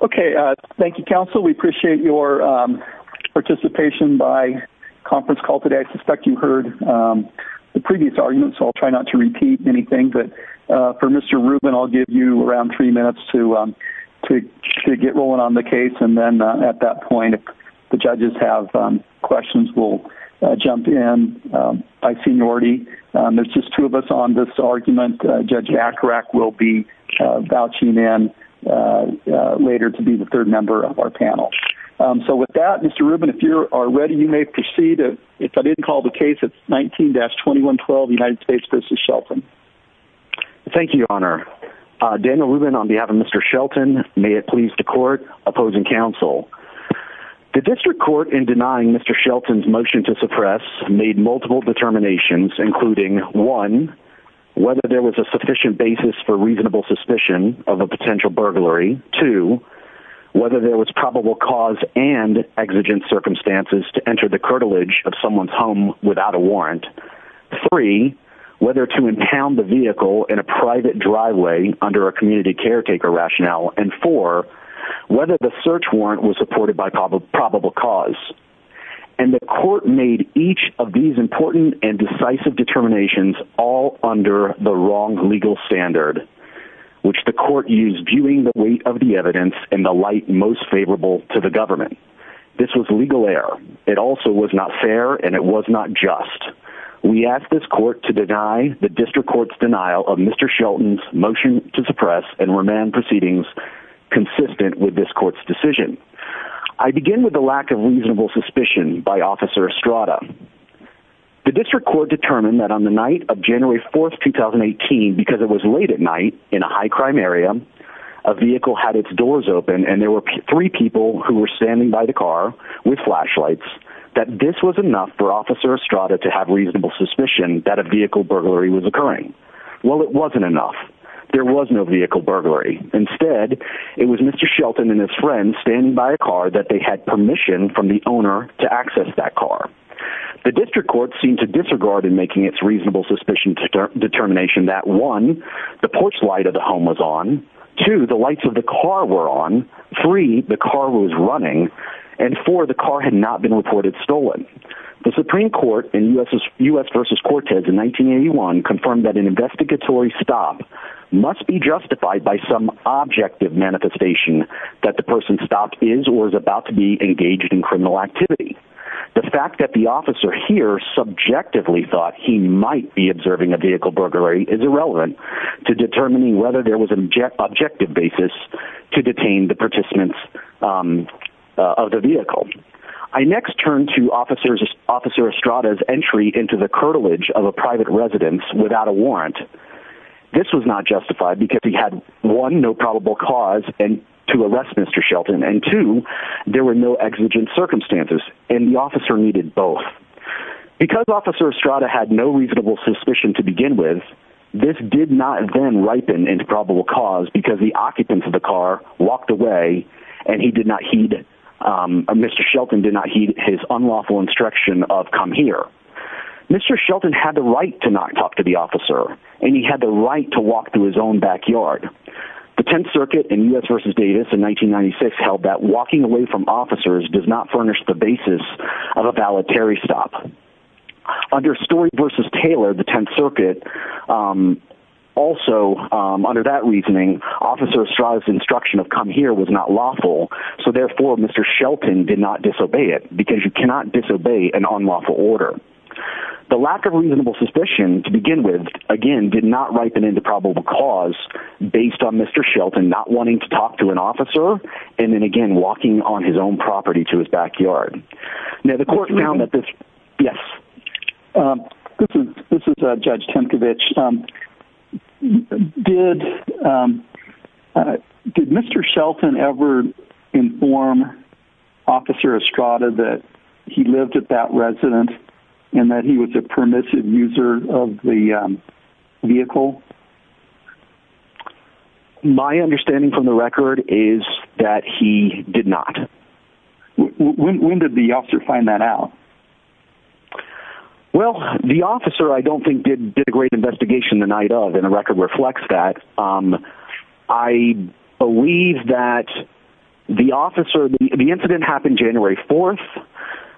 okay thank you counsel we appreciate your participation by conference call today I suspect you heard the previous argument so I'll try not to repeat anything but for mr. Rubin I'll give you around three minutes to to get rolling on the case and then at that point if the judges have questions we'll jump in by seniority there's just two of us on this argument judge Akrak will be vouching in later to be the third member of our panel so with that mr. Rubin if you are ready you may proceed if I didn't call the case it's 19-21 12 United States v. Shelton thank you honor Daniel Rubin on behalf of mr. Shelton may it please the court opposing counsel the district court in denying mr. Shelton's motion to suppress made multiple determinations including one whether there was a sufficient basis for reasonable suspicion of a potential burglary to whether there was probable cause and exigent circumstances to enter the curtilage of someone's home without a warrant three whether to impound the vehicle in a private driveway under a community caretaker rationale and for whether the search warrant was supported by probable probable cause and the court made each of these important and decisive determinations all under the wrong legal standard which the court used viewing the weight of the evidence and the light most favorable to the government this was legal error it also was not fair and it was not just we asked this court to deny the district courts denial of mr. Shelton's motion to suppress and remand proceedings consistent with this court's decision I begin with the lack of reasonable suspicion by officer Estrada the district court determined that on the night of January 4th 2018 because it was late at night in a high-crime area a vehicle had its doors open and there were three people who were standing by the car with flashlights that this was enough for officer Estrada to have reasonable suspicion that a vehicle burglary was occurring well it wasn't enough there was no vehicle burglary instead it was mr. Shelton and his friend standing by a car that they had permission from the owner to access that car the district court seemed to disregard in making its reasonable suspicion to determination that one the porch light of the home was on to the lights of the car were on three the car was running and for the car had not been reported stolen the Supreme Court in u.s. vs. Cortez in 1981 confirmed that an investigatory stop must be justified by some objective manifestation that the person stopped is or is about to be engaged in criminal activity the fact that the officer here subjectively thought he might be observing a vehicle burglary is irrelevant to determining whether there was an object objective basis to detain the participants of the vehicle I next turned to officers officer Estrada's entry into the curtilage of a private residence without a warrant this was not justified because he had one no probable cause and to there were no exigent circumstances in the officer needed both because officer Estrada had no reasonable suspicion to begin with this did not have been ripened into probable cause because the occupants of the car walked away and he did not heed mr. Shelton did not heed his unlawful instruction of come here mr. Shelton had the right to not talk to the officer and he had the right to walk to his own backyard the Tenth Circuit in u.s. vs. Davis in 1996 held that walking away from officers does not furnish the basis of a voluntary stop under story vs. Taylor the Tenth Circuit also under that reasoning officer Estrada's instruction of come here was not lawful so therefore mr. Shelton did not disobey it because you cannot disobey an unlawful order the lack of cause based on mr. Shelton not wanting to talk to an officer and then again walking on his own property to his backyard now the court found that this yes this is a judge Tempkiewicz did did mr. Shelton ever inform officer Estrada that he lived at that residence and that he was a permissive user of the vehicle my understanding from the record is that he did not when did the officer find that out well the officer I don't think did a great investigation the night of in a record reflects that I believe that the officer the incident happened January 4th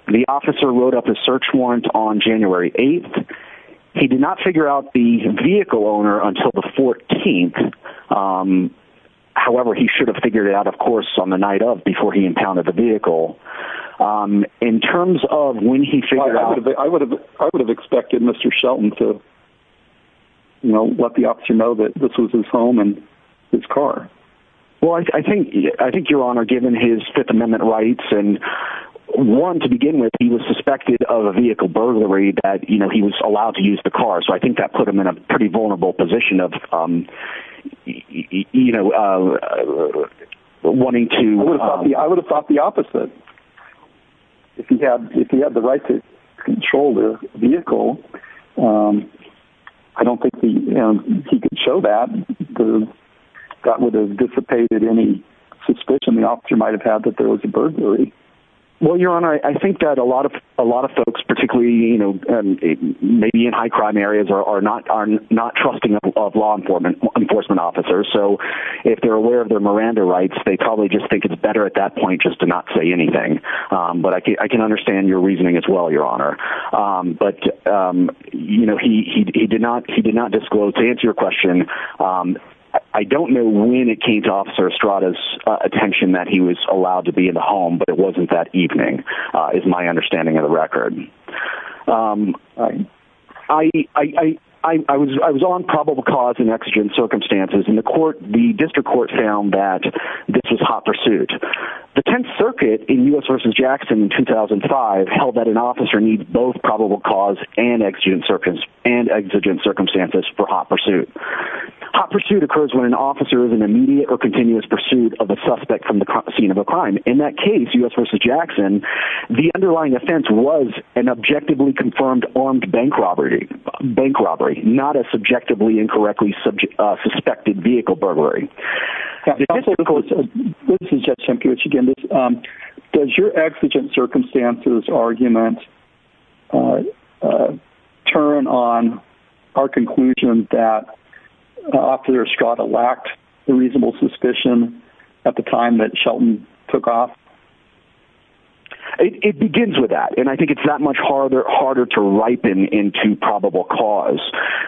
the officer wrote up a search warrant on January 8th he did not figure out the vehicle owner until the 14th however he should have figured out of course on the night of before he impounded the vehicle in terms of when he figured out I would have I would have expected mr. Shelton to know what the option know that this was his home and his car well I think I think your honor given his Fifth Amendment rights and one to begin with he was allowed to use the car so I think that put him in a pretty vulnerable position of you know wanting to I would have thought the opposite if he had if he had the right to control their vehicle I don't think he could show that that would have dissipated any suspicion the officer might have had that there was a burglary well your honor I think that a lot of a lot of folks particularly you may be in high-crime areas are not are not trusting of law enforcement enforcement officers so if they're aware of their Miranda rights they probably just think it's better at that point just to not say anything but I can I can understand your reasoning as well your honor but you know he did not he did not disclose to answer your question I don't know when it came to officer Strata's attention that he was allowed to be in the home but it wasn't that evening is my understanding of the record I was on probable cause and exigent circumstances in the court the district court found that this was hot pursuit the 10th Circuit in US versus Jackson in 2005 held that an officer needs both probable cause and exigent circumstances and exigent circumstances for hot pursuit hot pursuit occurs when an officer is an immediate or continuous pursuit of a suspect from the scene of a crime in that case u.s. versus Jackson the underlying offense was an objectively confirmed armed bank robbery bank robbery not a subjectively incorrectly subject suspected vehicle burglary does your exigent circumstances argument turn on our conclusion that officer Strata lacked a reasonable suspicion at the time that Shelton took off it begins with that and I think it's that much harder harder to ripen into probable cause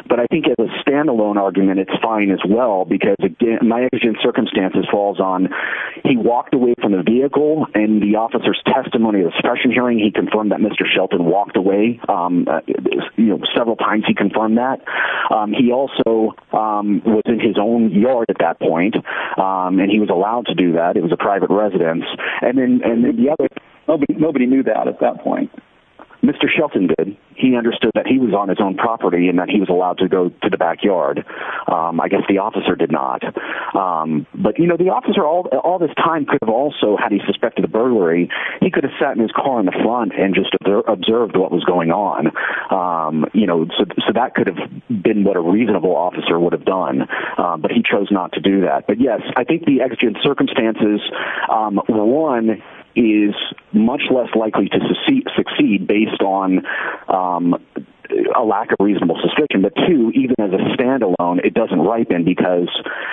but I think it was standalone argument it's fine as well because again my exigent circumstances falls on he walked away from the vehicle and the officer's testimony of the special hearing he confirmed that mr. Shelton walked away you know several times he confirmed that he also was in his own yard at that point and he was that it was a private residence and then nobody knew that at that point mr. Shelton did he understood that he was on his own property and that he was allowed to go to the backyard I guess the officer did not but you know the officer all this time could have also had he suspected the burglary he could have sat in his car in the front and just observed what was going on you know so that could have been what a reasonable officer would have done but he chose not to do that but yes I think the exigent circumstances one is much less likely to succeed succeed based on a lack of reasonable suspicion but to even as a standalone it doesn't ripen because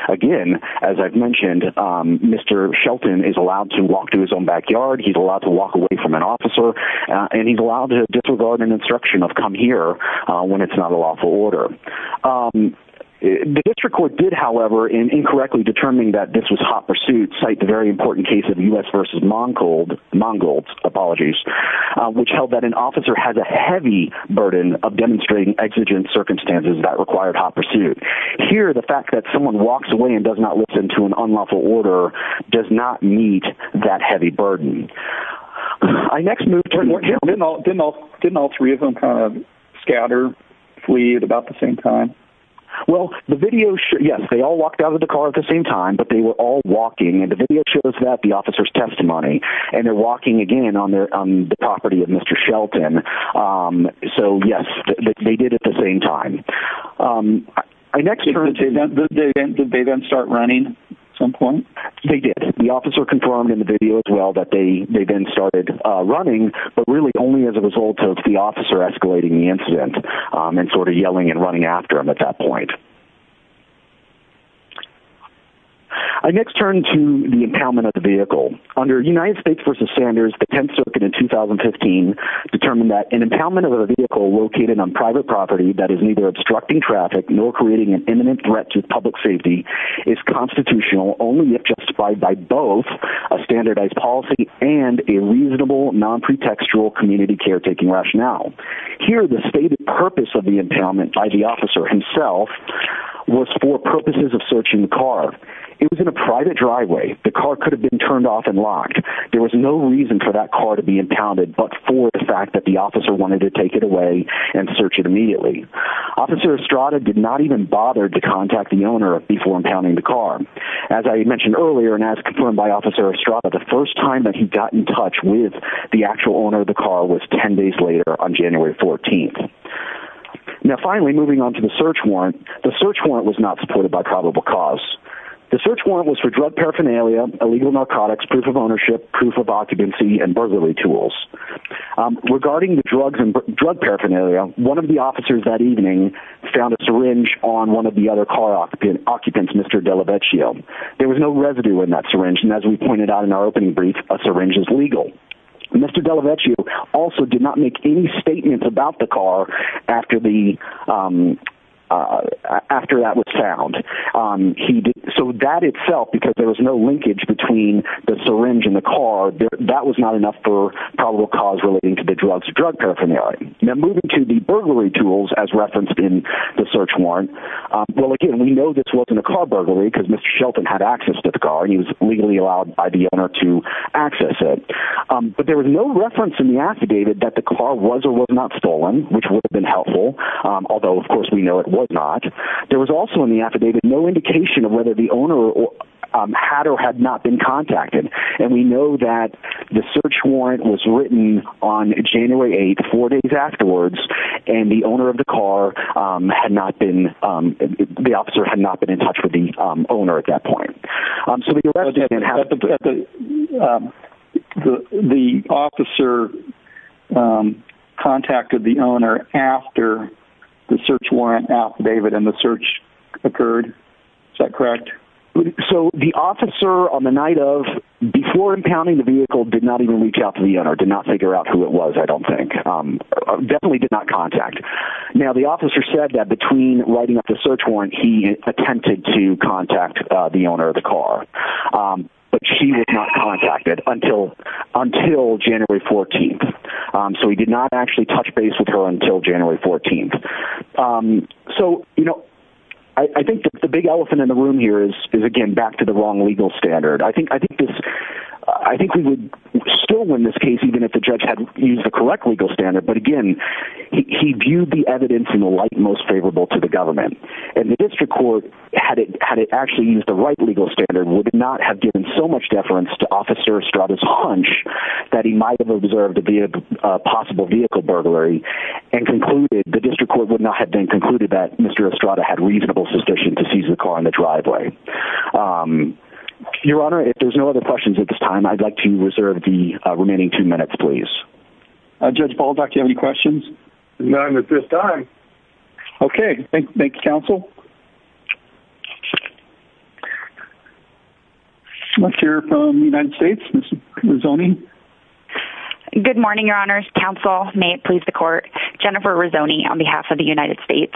again as I've mentioned mr. Shelton is allowed to walk to his own backyard he's allowed to walk away from an officer and he's allowed to disregard an instruction of come here when it's not a lawful order the district court did however in incorrectly determining that this was hot pursuit cite the very important case of us vs. Mongold Mongold apologies which held that an officer has a heavy burden of demonstrating exigent circumstances that required hot pursuit here the fact that someone walks away and does not listen to an unlawful order does not meet that heavy burden I next didn't all three of them kind of scatter flee at about the same time well the video sure yes they all walked out of the car at the same time but they were all walking and the video shows that the officer's testimony and they're walking again on their property of mr. Shelton so yes they did at the same time I next turn to the day then start running some point they did the officer confirmed in the video as well that they they then started running but really only as a result of the officer escalating the incident and sort of yelling and running after him at that point I next turn to the impoundment of the vehicle under United States versus Sanders the 10th Circuit in 2015 determined that an impoundment of a vehicle located on private property that is neither obstructing traffic nor creating an imminent threat to public safety is constitutional only if justified by both a standardized policy and a reasonable non-pretextual community caretaking rationale here the stated purpose of the impoundment by the officer himself was for purposes of searching the car it was in a private driveway the car could have been turned off and locked there was no reason for that car to be impounded but for the fact that the officer wanted to take it away and search it immediately officer Estrada did not even bother to contact the owner before impounding the car as I mentioned earlier and as confirmed by officer Estrada the first time that he got in touch with the actual owner of the car was 10 days later on January 14th now finally moving on to the search warrant the search warrant was not supported by probable cause the search warrant was for drug paraphernalia illegal narcotics proof of ownership proof of occupancy and burglary tools regarding the drugs and drug paraphernalia one of the officers that evening found a syringe on one of the other car occupant occupants mr. Delevecchio there was no residue in that syringe and as we pointed out in our opening brief a syringe is legal mr. Delevecchio also did not make any statements about the car after the after that was found he did so that itself because there was no linkage between the syringe in the car that was not enough for probable cause relating to the drugs drug paraphernalia now moving to the the search warrant well again we know this wasn't a car burglary because mr. Shelton had access to the car he was legally allowed by the owner to access it but there was no reference in the affidavit that the car was or was not stolen which would have been helpful although of course we know it was not there was also in the affidavit no indication of whether the owner or had or had not been contacted and we know that the search warrant was written on the owner of the car had not been the officer had not been in touch with the owner at that point the officer contacted the owner after the search warrant affidavit and the search occurred is that correct so the officer on the night of before impounding the vehicle did not even reach out to the owner did not figure out who it was I don't think definitely did not contact now the officer said that between writing up the search warrant he attempted to contact the owner of the car but she was not contacted until until January 14th so he did not actually touch base with her until January 14th so you know I think the big elephant in the room here is again back to the wrong legal standard I think I think I think we would still win this most favorable to the government and the district court had it had it actually used the right legal standard would not have given so much deference to officer Estrada's hunch that he might have observed to be a possible vehicle burglary and concluded the district court would not have been concluded that mr. Estrada had reasonable suspicion to seize the car in the driveway your honor if there's no other questions at this time I'd like to reserve the remaining two minutes please judge Paul doc you have any questions none at this time okay thank you counsel let's hear from the United States Miss Rizzoni good morning your honors counsel may it please the court Jennifer Rizzoni on behalf of the United States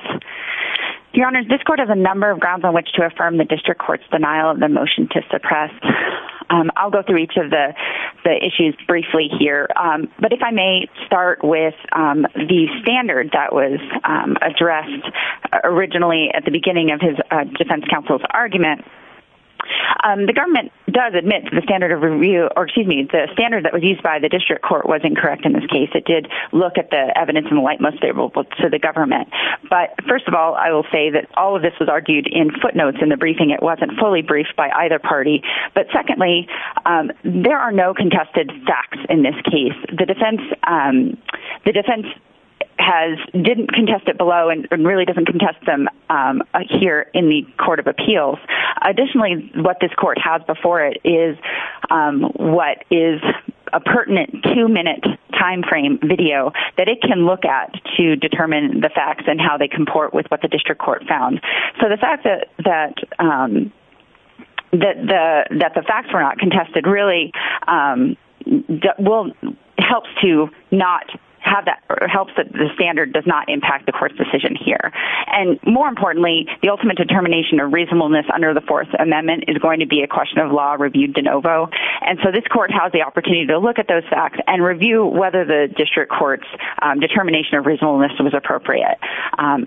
your honors this court has a number of grounds on which to affirm the district courts denial of the motion to suppress I'll go through each of the issues briefly here but if I may start with the standard that was addressed originally at the beginning of his defense counsel's argument the government does admit to the standard of review or excuse me the standard that was used by the district court was incorrect in this case it did look at the evidence in the light most favorable to the government but first of all I will say that all of this was argued in footnotes in the briefing it wasn't fully briefed by either party but secondly there are no contested facts in this case the defense the defense has didn't contest it below and really doesn't contest them here in the Court of Appeals additionally what this court has before it is what is a pertinent two-minute time frame video that it can look at to determine the facts and how they comport with what the district court found so the fact that that that the that the facts were not contested really well helps to not have that or helps that the standard does not impact the court's decision here and more importantly the ultimate determination of reasonableness under the Fourth Amendment is going to be a question of law reviewed de novo and so this court has the opportunity to look at those facts and review whether the district courts determination of reasonableness was appropriate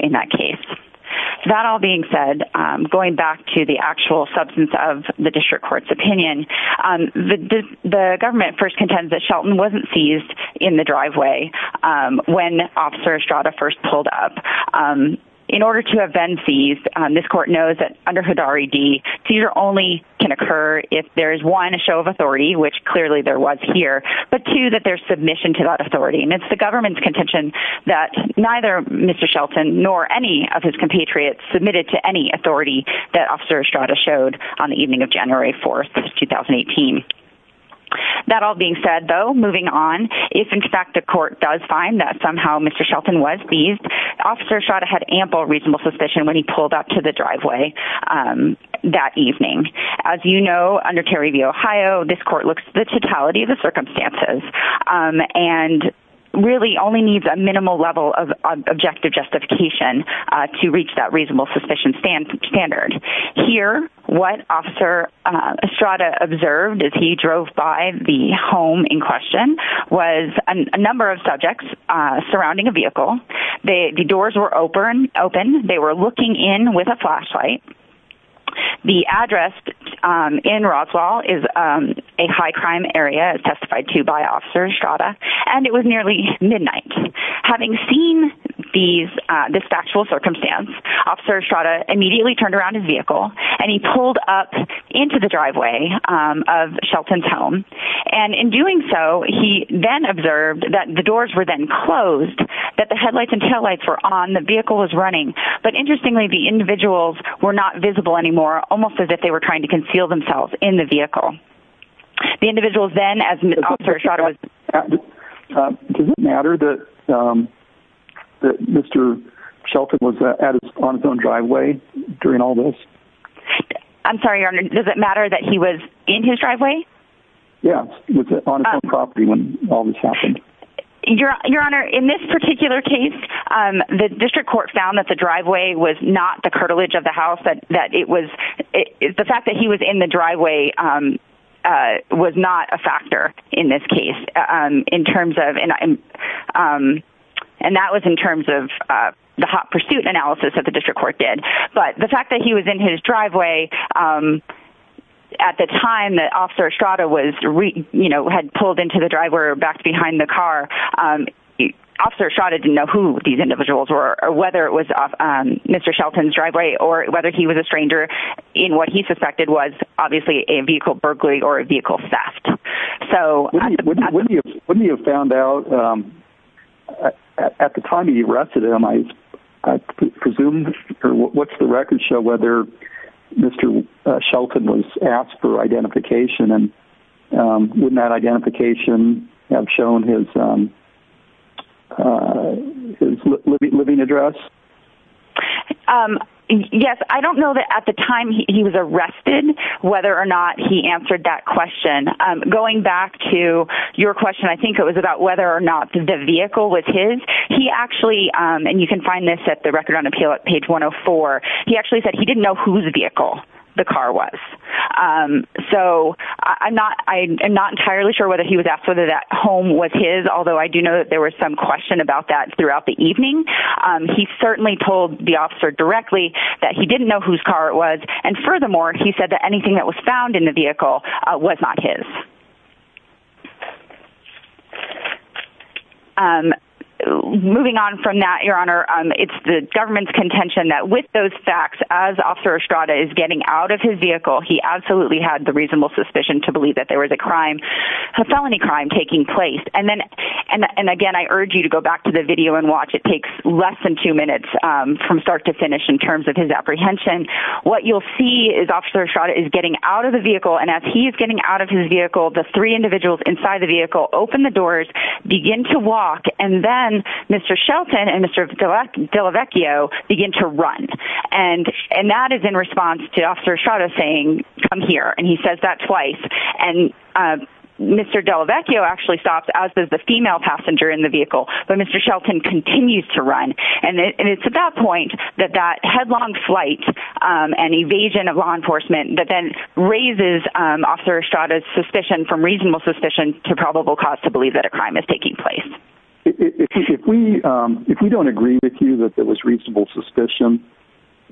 in that case that all being said going back to the actual substance of the district court's opinion the government first contends that Shelton wasn't seized in the driveway when officer Estrada first pulled up in order to have been seized this court knows that under HUD R.E.D. seizure only can occur if there is one a show of authority which clearly there was here but two that there's submission to that authority and it's the neither Mr. Shelton nor any of his compatriots submitted to any authority that officer Estrada showed on the evening of January 4th 2018 that all being said though moving on if in fact the court does find that somehow Mr. Shelton was seized officer Estrada had ample reasonable suspicion when he pulled up to the driveway that evening as you know under Terry v. Ohio this court looks the totality of the circumstances and really only needs a objective justification to reach that reasonable suspicion standard here what officer Estrada observed as he drove by the home in question was a number of subjects surrounding a vehicle the doors were open open they were looking in with a flashlight the address in Roswell is a high-crime area as these this factual circumstance officer Estrada immediately turned around his vehicle and he pulled up into the driveway of Shelton's home and in doing so he then observed that the doors were then closed that the headlights and taillights were on the vehicle was running but interestingly the individuals were not visible anymore almost as if they were trying to conceal themselves in the vehicle the individuals then as matter that mr. Shelton was on his own driveway during all this I'm sorry your honor does it matter that he was in his driveway yes property when all this happened your your honor in this particular case the district court found that the driveway was not the cartilage of the house that that it was the fact that he was in the driveway was not a factor in this case in terms of and and that was in terms of the hot pursuit analysis that the district court did but the fact that he was in his driveway at the time that officer Estrada was you know had pulled into the driver back behind the car officer Estrada didn't know who these individuals were or whether it was off mr. Shelton's driveway or whether he was a stranger in what he suspected was obviously a vehicle Berkeley or a vehicle theft so when you found out at the time he arrested him I presumed what's the record show whether mr. Shelton was asked for identification and wouldn't that identification have shown his living address yes I don't know that at the time he was arrested whether or not he answered that question going back to your question I think it was about whether or not the vehicle was his he actually and you can find this at the record on appeal at page 104 he actually said he didn't know who the vehicle the car was so I'm not I'm not entirely sure whether he was asked whether that home was his although I do know that there was some question about that throughout the evening he certainly told the officer directly that he didn't know whose car it was and furthermore he said that anything that was found in the vehicle was not his moving on from that your honor it's the government's contention that with those facts as officer Strada is getting out of his vehicle he absolutely had the reasonable suspicion to believe that there was a crime felony crime taking place and then and again I urge you to go back to the video and watch it takes less than two minutes from start to finish in terms of his apprehension what you'll see is officer shot is getting out of the vehicle and as he is getting out of his vehicle the three individuals inside the vehicle open the doors begin to walk and then mr. Shelton and mr. Delac Delavecchio begin to run and and that is in response to officer Strada saying come here and he says that twice and mr. Delavecchio actually stops as does the female passenger in the vehicle but mr. Shelton continues to run and it's at that point that that headlong flight and evasion of law enforcement that then raises officer Strada's suspicion from reasonable suspicion to probable cause to believe that a crime is taking place if we if we don't agree with you that there was reasonable suspicion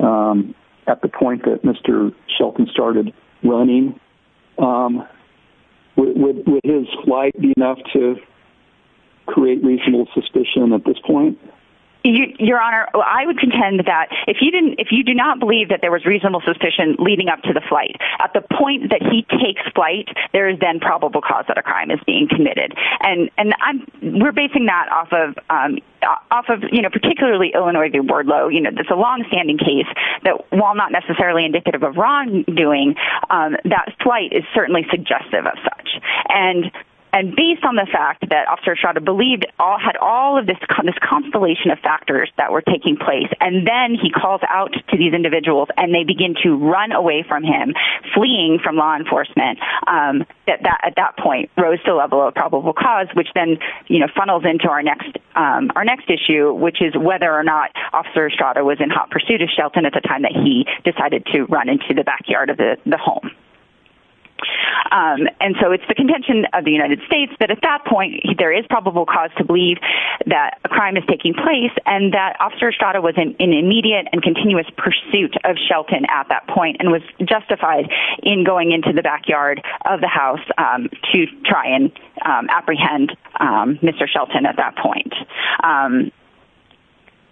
at the point that mr. Shelton started running would his flight be enough to create reasonable suspicion at this point your honor I would contend that if you didn't if you do not believe that there was reasonable suspicion leading up to the flight at the point that he takes flight there is then probable cause that a thing that off of off of you know particularly Illinois the word low you know that's a long-standing case that while not necessarily indicative of wrongdoing that flight is certainly suggestive of such and and based on the fact that officer Strada believed all had all of this kind of constellation of factors that were taking place and then he calls out to these individuals and they begin to run away from him fleeing from law enforcement at that at point rose to level of probable cause which then you know funnels into our next our next issue which is whether or not officer Strada was in hot pursuit of Shelton at the time that he decided to run into the backyard of the home and so it's the contention of the United States that at that point there is probable cause to believe that a crime is taking place and that officer Strada was in an immediate and continuous pursuit of Shelton at that point and was justified in going into the backyard of the house to try and apprehend mr. Shelton at that point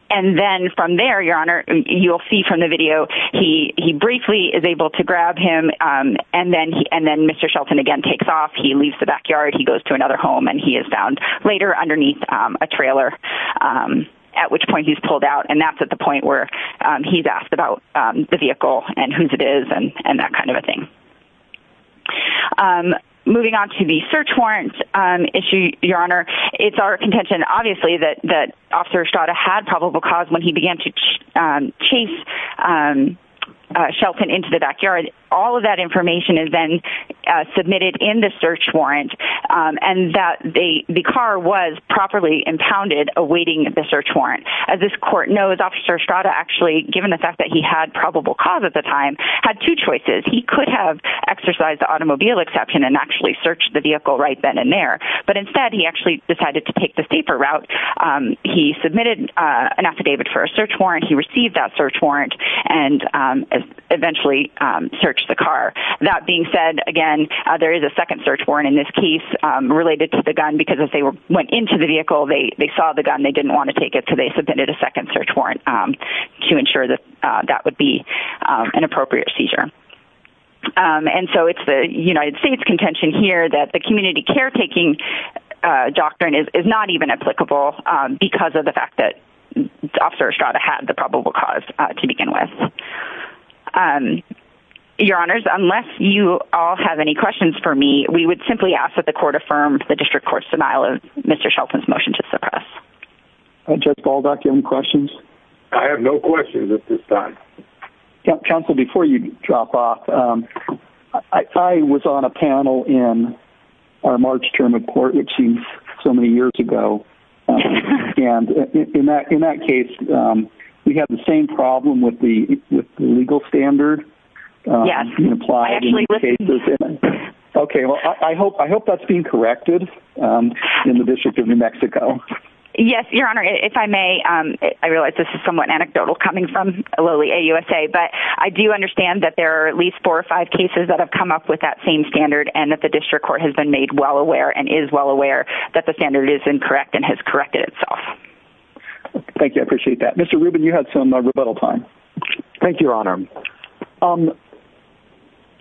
and then from there your honor you'll see from the video he he briefly is able to grab him and then he and then mr. Shelton again takes off he leaves the backyard he goes to another home and he is found later underneath a trailer at which point he's pulled out and that's at the point where he's asked about the vehicle and whose it is and that kind of a thing. Moving on to the search warrant issue your honor it's our contention obviously that that officer Strada had probable cause when he began to chase Shelton into the backyard all of that information is then submitted in the search warrant and that the the car was properly impounded awaiting the search warrant as this court knows officer Strada actually given the fact that he had probable cause at the time had two choices he could have exercised the automobile exception and actually searched the vehicle right then and there but instead he actually decided to take the steeper route he submitted an affidavit for a search warrant he received that search warrant and eventually searched the car that being said again there is a second search warrant in this case related to the gun because if they were went into the vehicle they saw the gun they didn't want to take it so they submitted a second search warrant to ensure that that would be an appropriate seizure and so it's the United States contention here that the community caretaking doctrine is not even applicable because of the fact that officer Strada had the probable cause to begin with. Your honors unless you all have any questions for me we would simply ask that the Judge Baldock any questions? I have no questions at this time. Counsel before you drop off I was on a panel in our March term of court which seems so many years ago and in that in that case we had the same problem with the legal standard. Yes. Okay well I hope I hope that's being corrected in the District of New Mexico. Yes your honor if I may I realize this is somewhat anecdotal coming from Lilly AUSA but I do understand that there are at least four or five cases that have come up with that same standard and that the district court has been made well aware and is well aware that the standard is incorrect and has corrected itself. Thank you I appreciate that. Mr. Rubin you had some rebuttal time. Thank you your honor.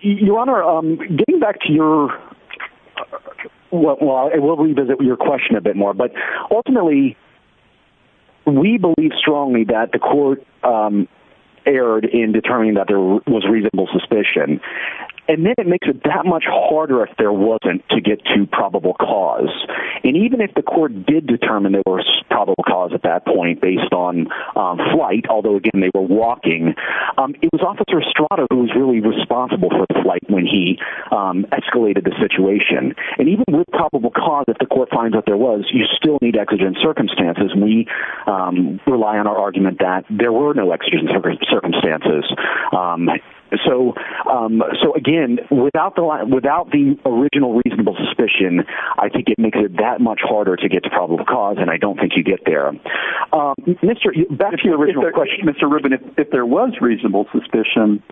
Your honor getting back to your what more but ultimately we believe strongly that the court erred in determining that there was reasonable suspicion and then it makes it that much harder if there wasn't to get to probable cause and even if the court did determine there was probable cause at that point based on flight although again they were walking it was officer Strada who was really responsible for the flight when he escalated the situation and even with probable cause if the court finds out there was you still need exigent circumstances and we rely on our argument that there were no exigent circumstances so so again without the line without the original reasonable suspicion I think it makes it that much harder to get to probable cause and I don't think you get there. Mr. back to your original question. Mr. Rubin if there was reasonable suspicion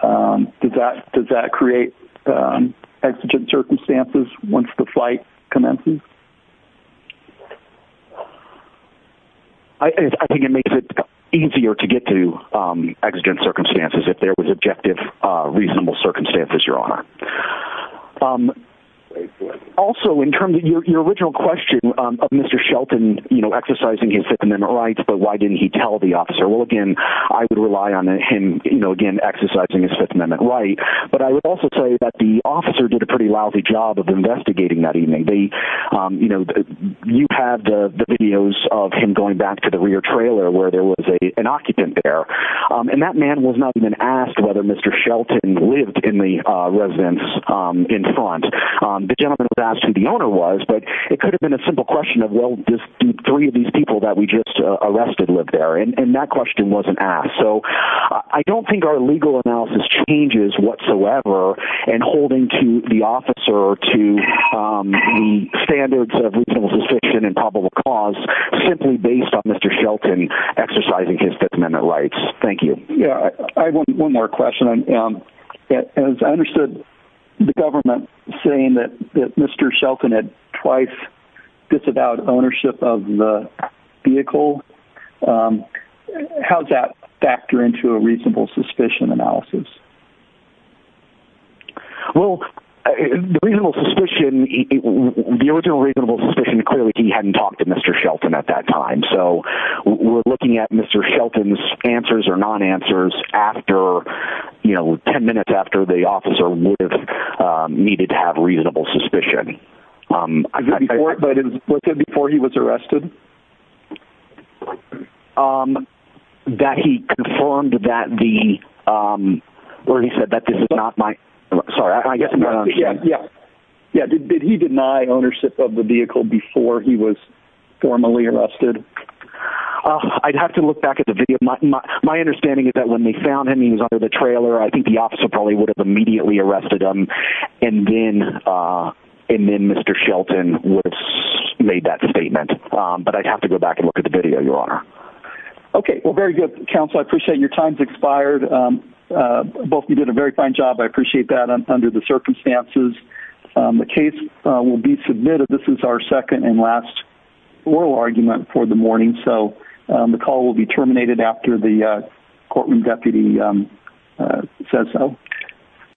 does that create exigent circumstances once the flight commences? I think it makes it easier to get to exigent circumstances if there was objective reasonable circumstances your honor. Also in terms of your original question of Mr. Shelton you know exercising his Fifth Amendment rights but why didn't he tell the officer well again I would rely on him you know again exercising his Fifth Amendment rights? Well I would also tell you that the officer did a pretty lousy job of investigating that evening. You know you had the videos of him going back to the rear trailer where there was a an occupant there and that man was not even asked whether Mr. Shelton lived in the residence in front. The gentleman was asked who the owner was but it could have been a simple question of well just three of these people that we just arrested lived there and that question wasn't asked so I don't think our legal analysis changes whatsoever and holding to the officer or to the standards of reasonable suspicion and probable cause simply based on Mr. Shelton exercising his Fifth Amendment rights. Thank you. Yeah I have one more question. As I understood the government saying that Mr. Shelton had twice disavowed ownership of the vehicle. How's that factor into a reasonable suspicion analysis? Well the original reasonable suspicion clearly he hadn't talked to Mr. Shelton at that time so we're looking at Mr. Shelton's answers or non-answers after you know ten minutes after the officer would have needed to have reasonable suspicion. Before he was arrested? That he confirmed that the where he said that this is not my sorry I guess yeah yeah did he deny ownership of the vehicle before he was formally arrested? I'd have to look back at the video my understanding is that when they found him he was under the trailer I think the officer probably would have immediately arrested him and then and then Mr. Shelton would have made that statement but I'd have to go back and look at the video your honor. Okay well very good counsel I appreciate your time's expired both you did a very fine job I appreciate that under the circumstances the case will be submitted this is our second and last oral argument for the morning so the call will be terminated after the courtroom deputy says so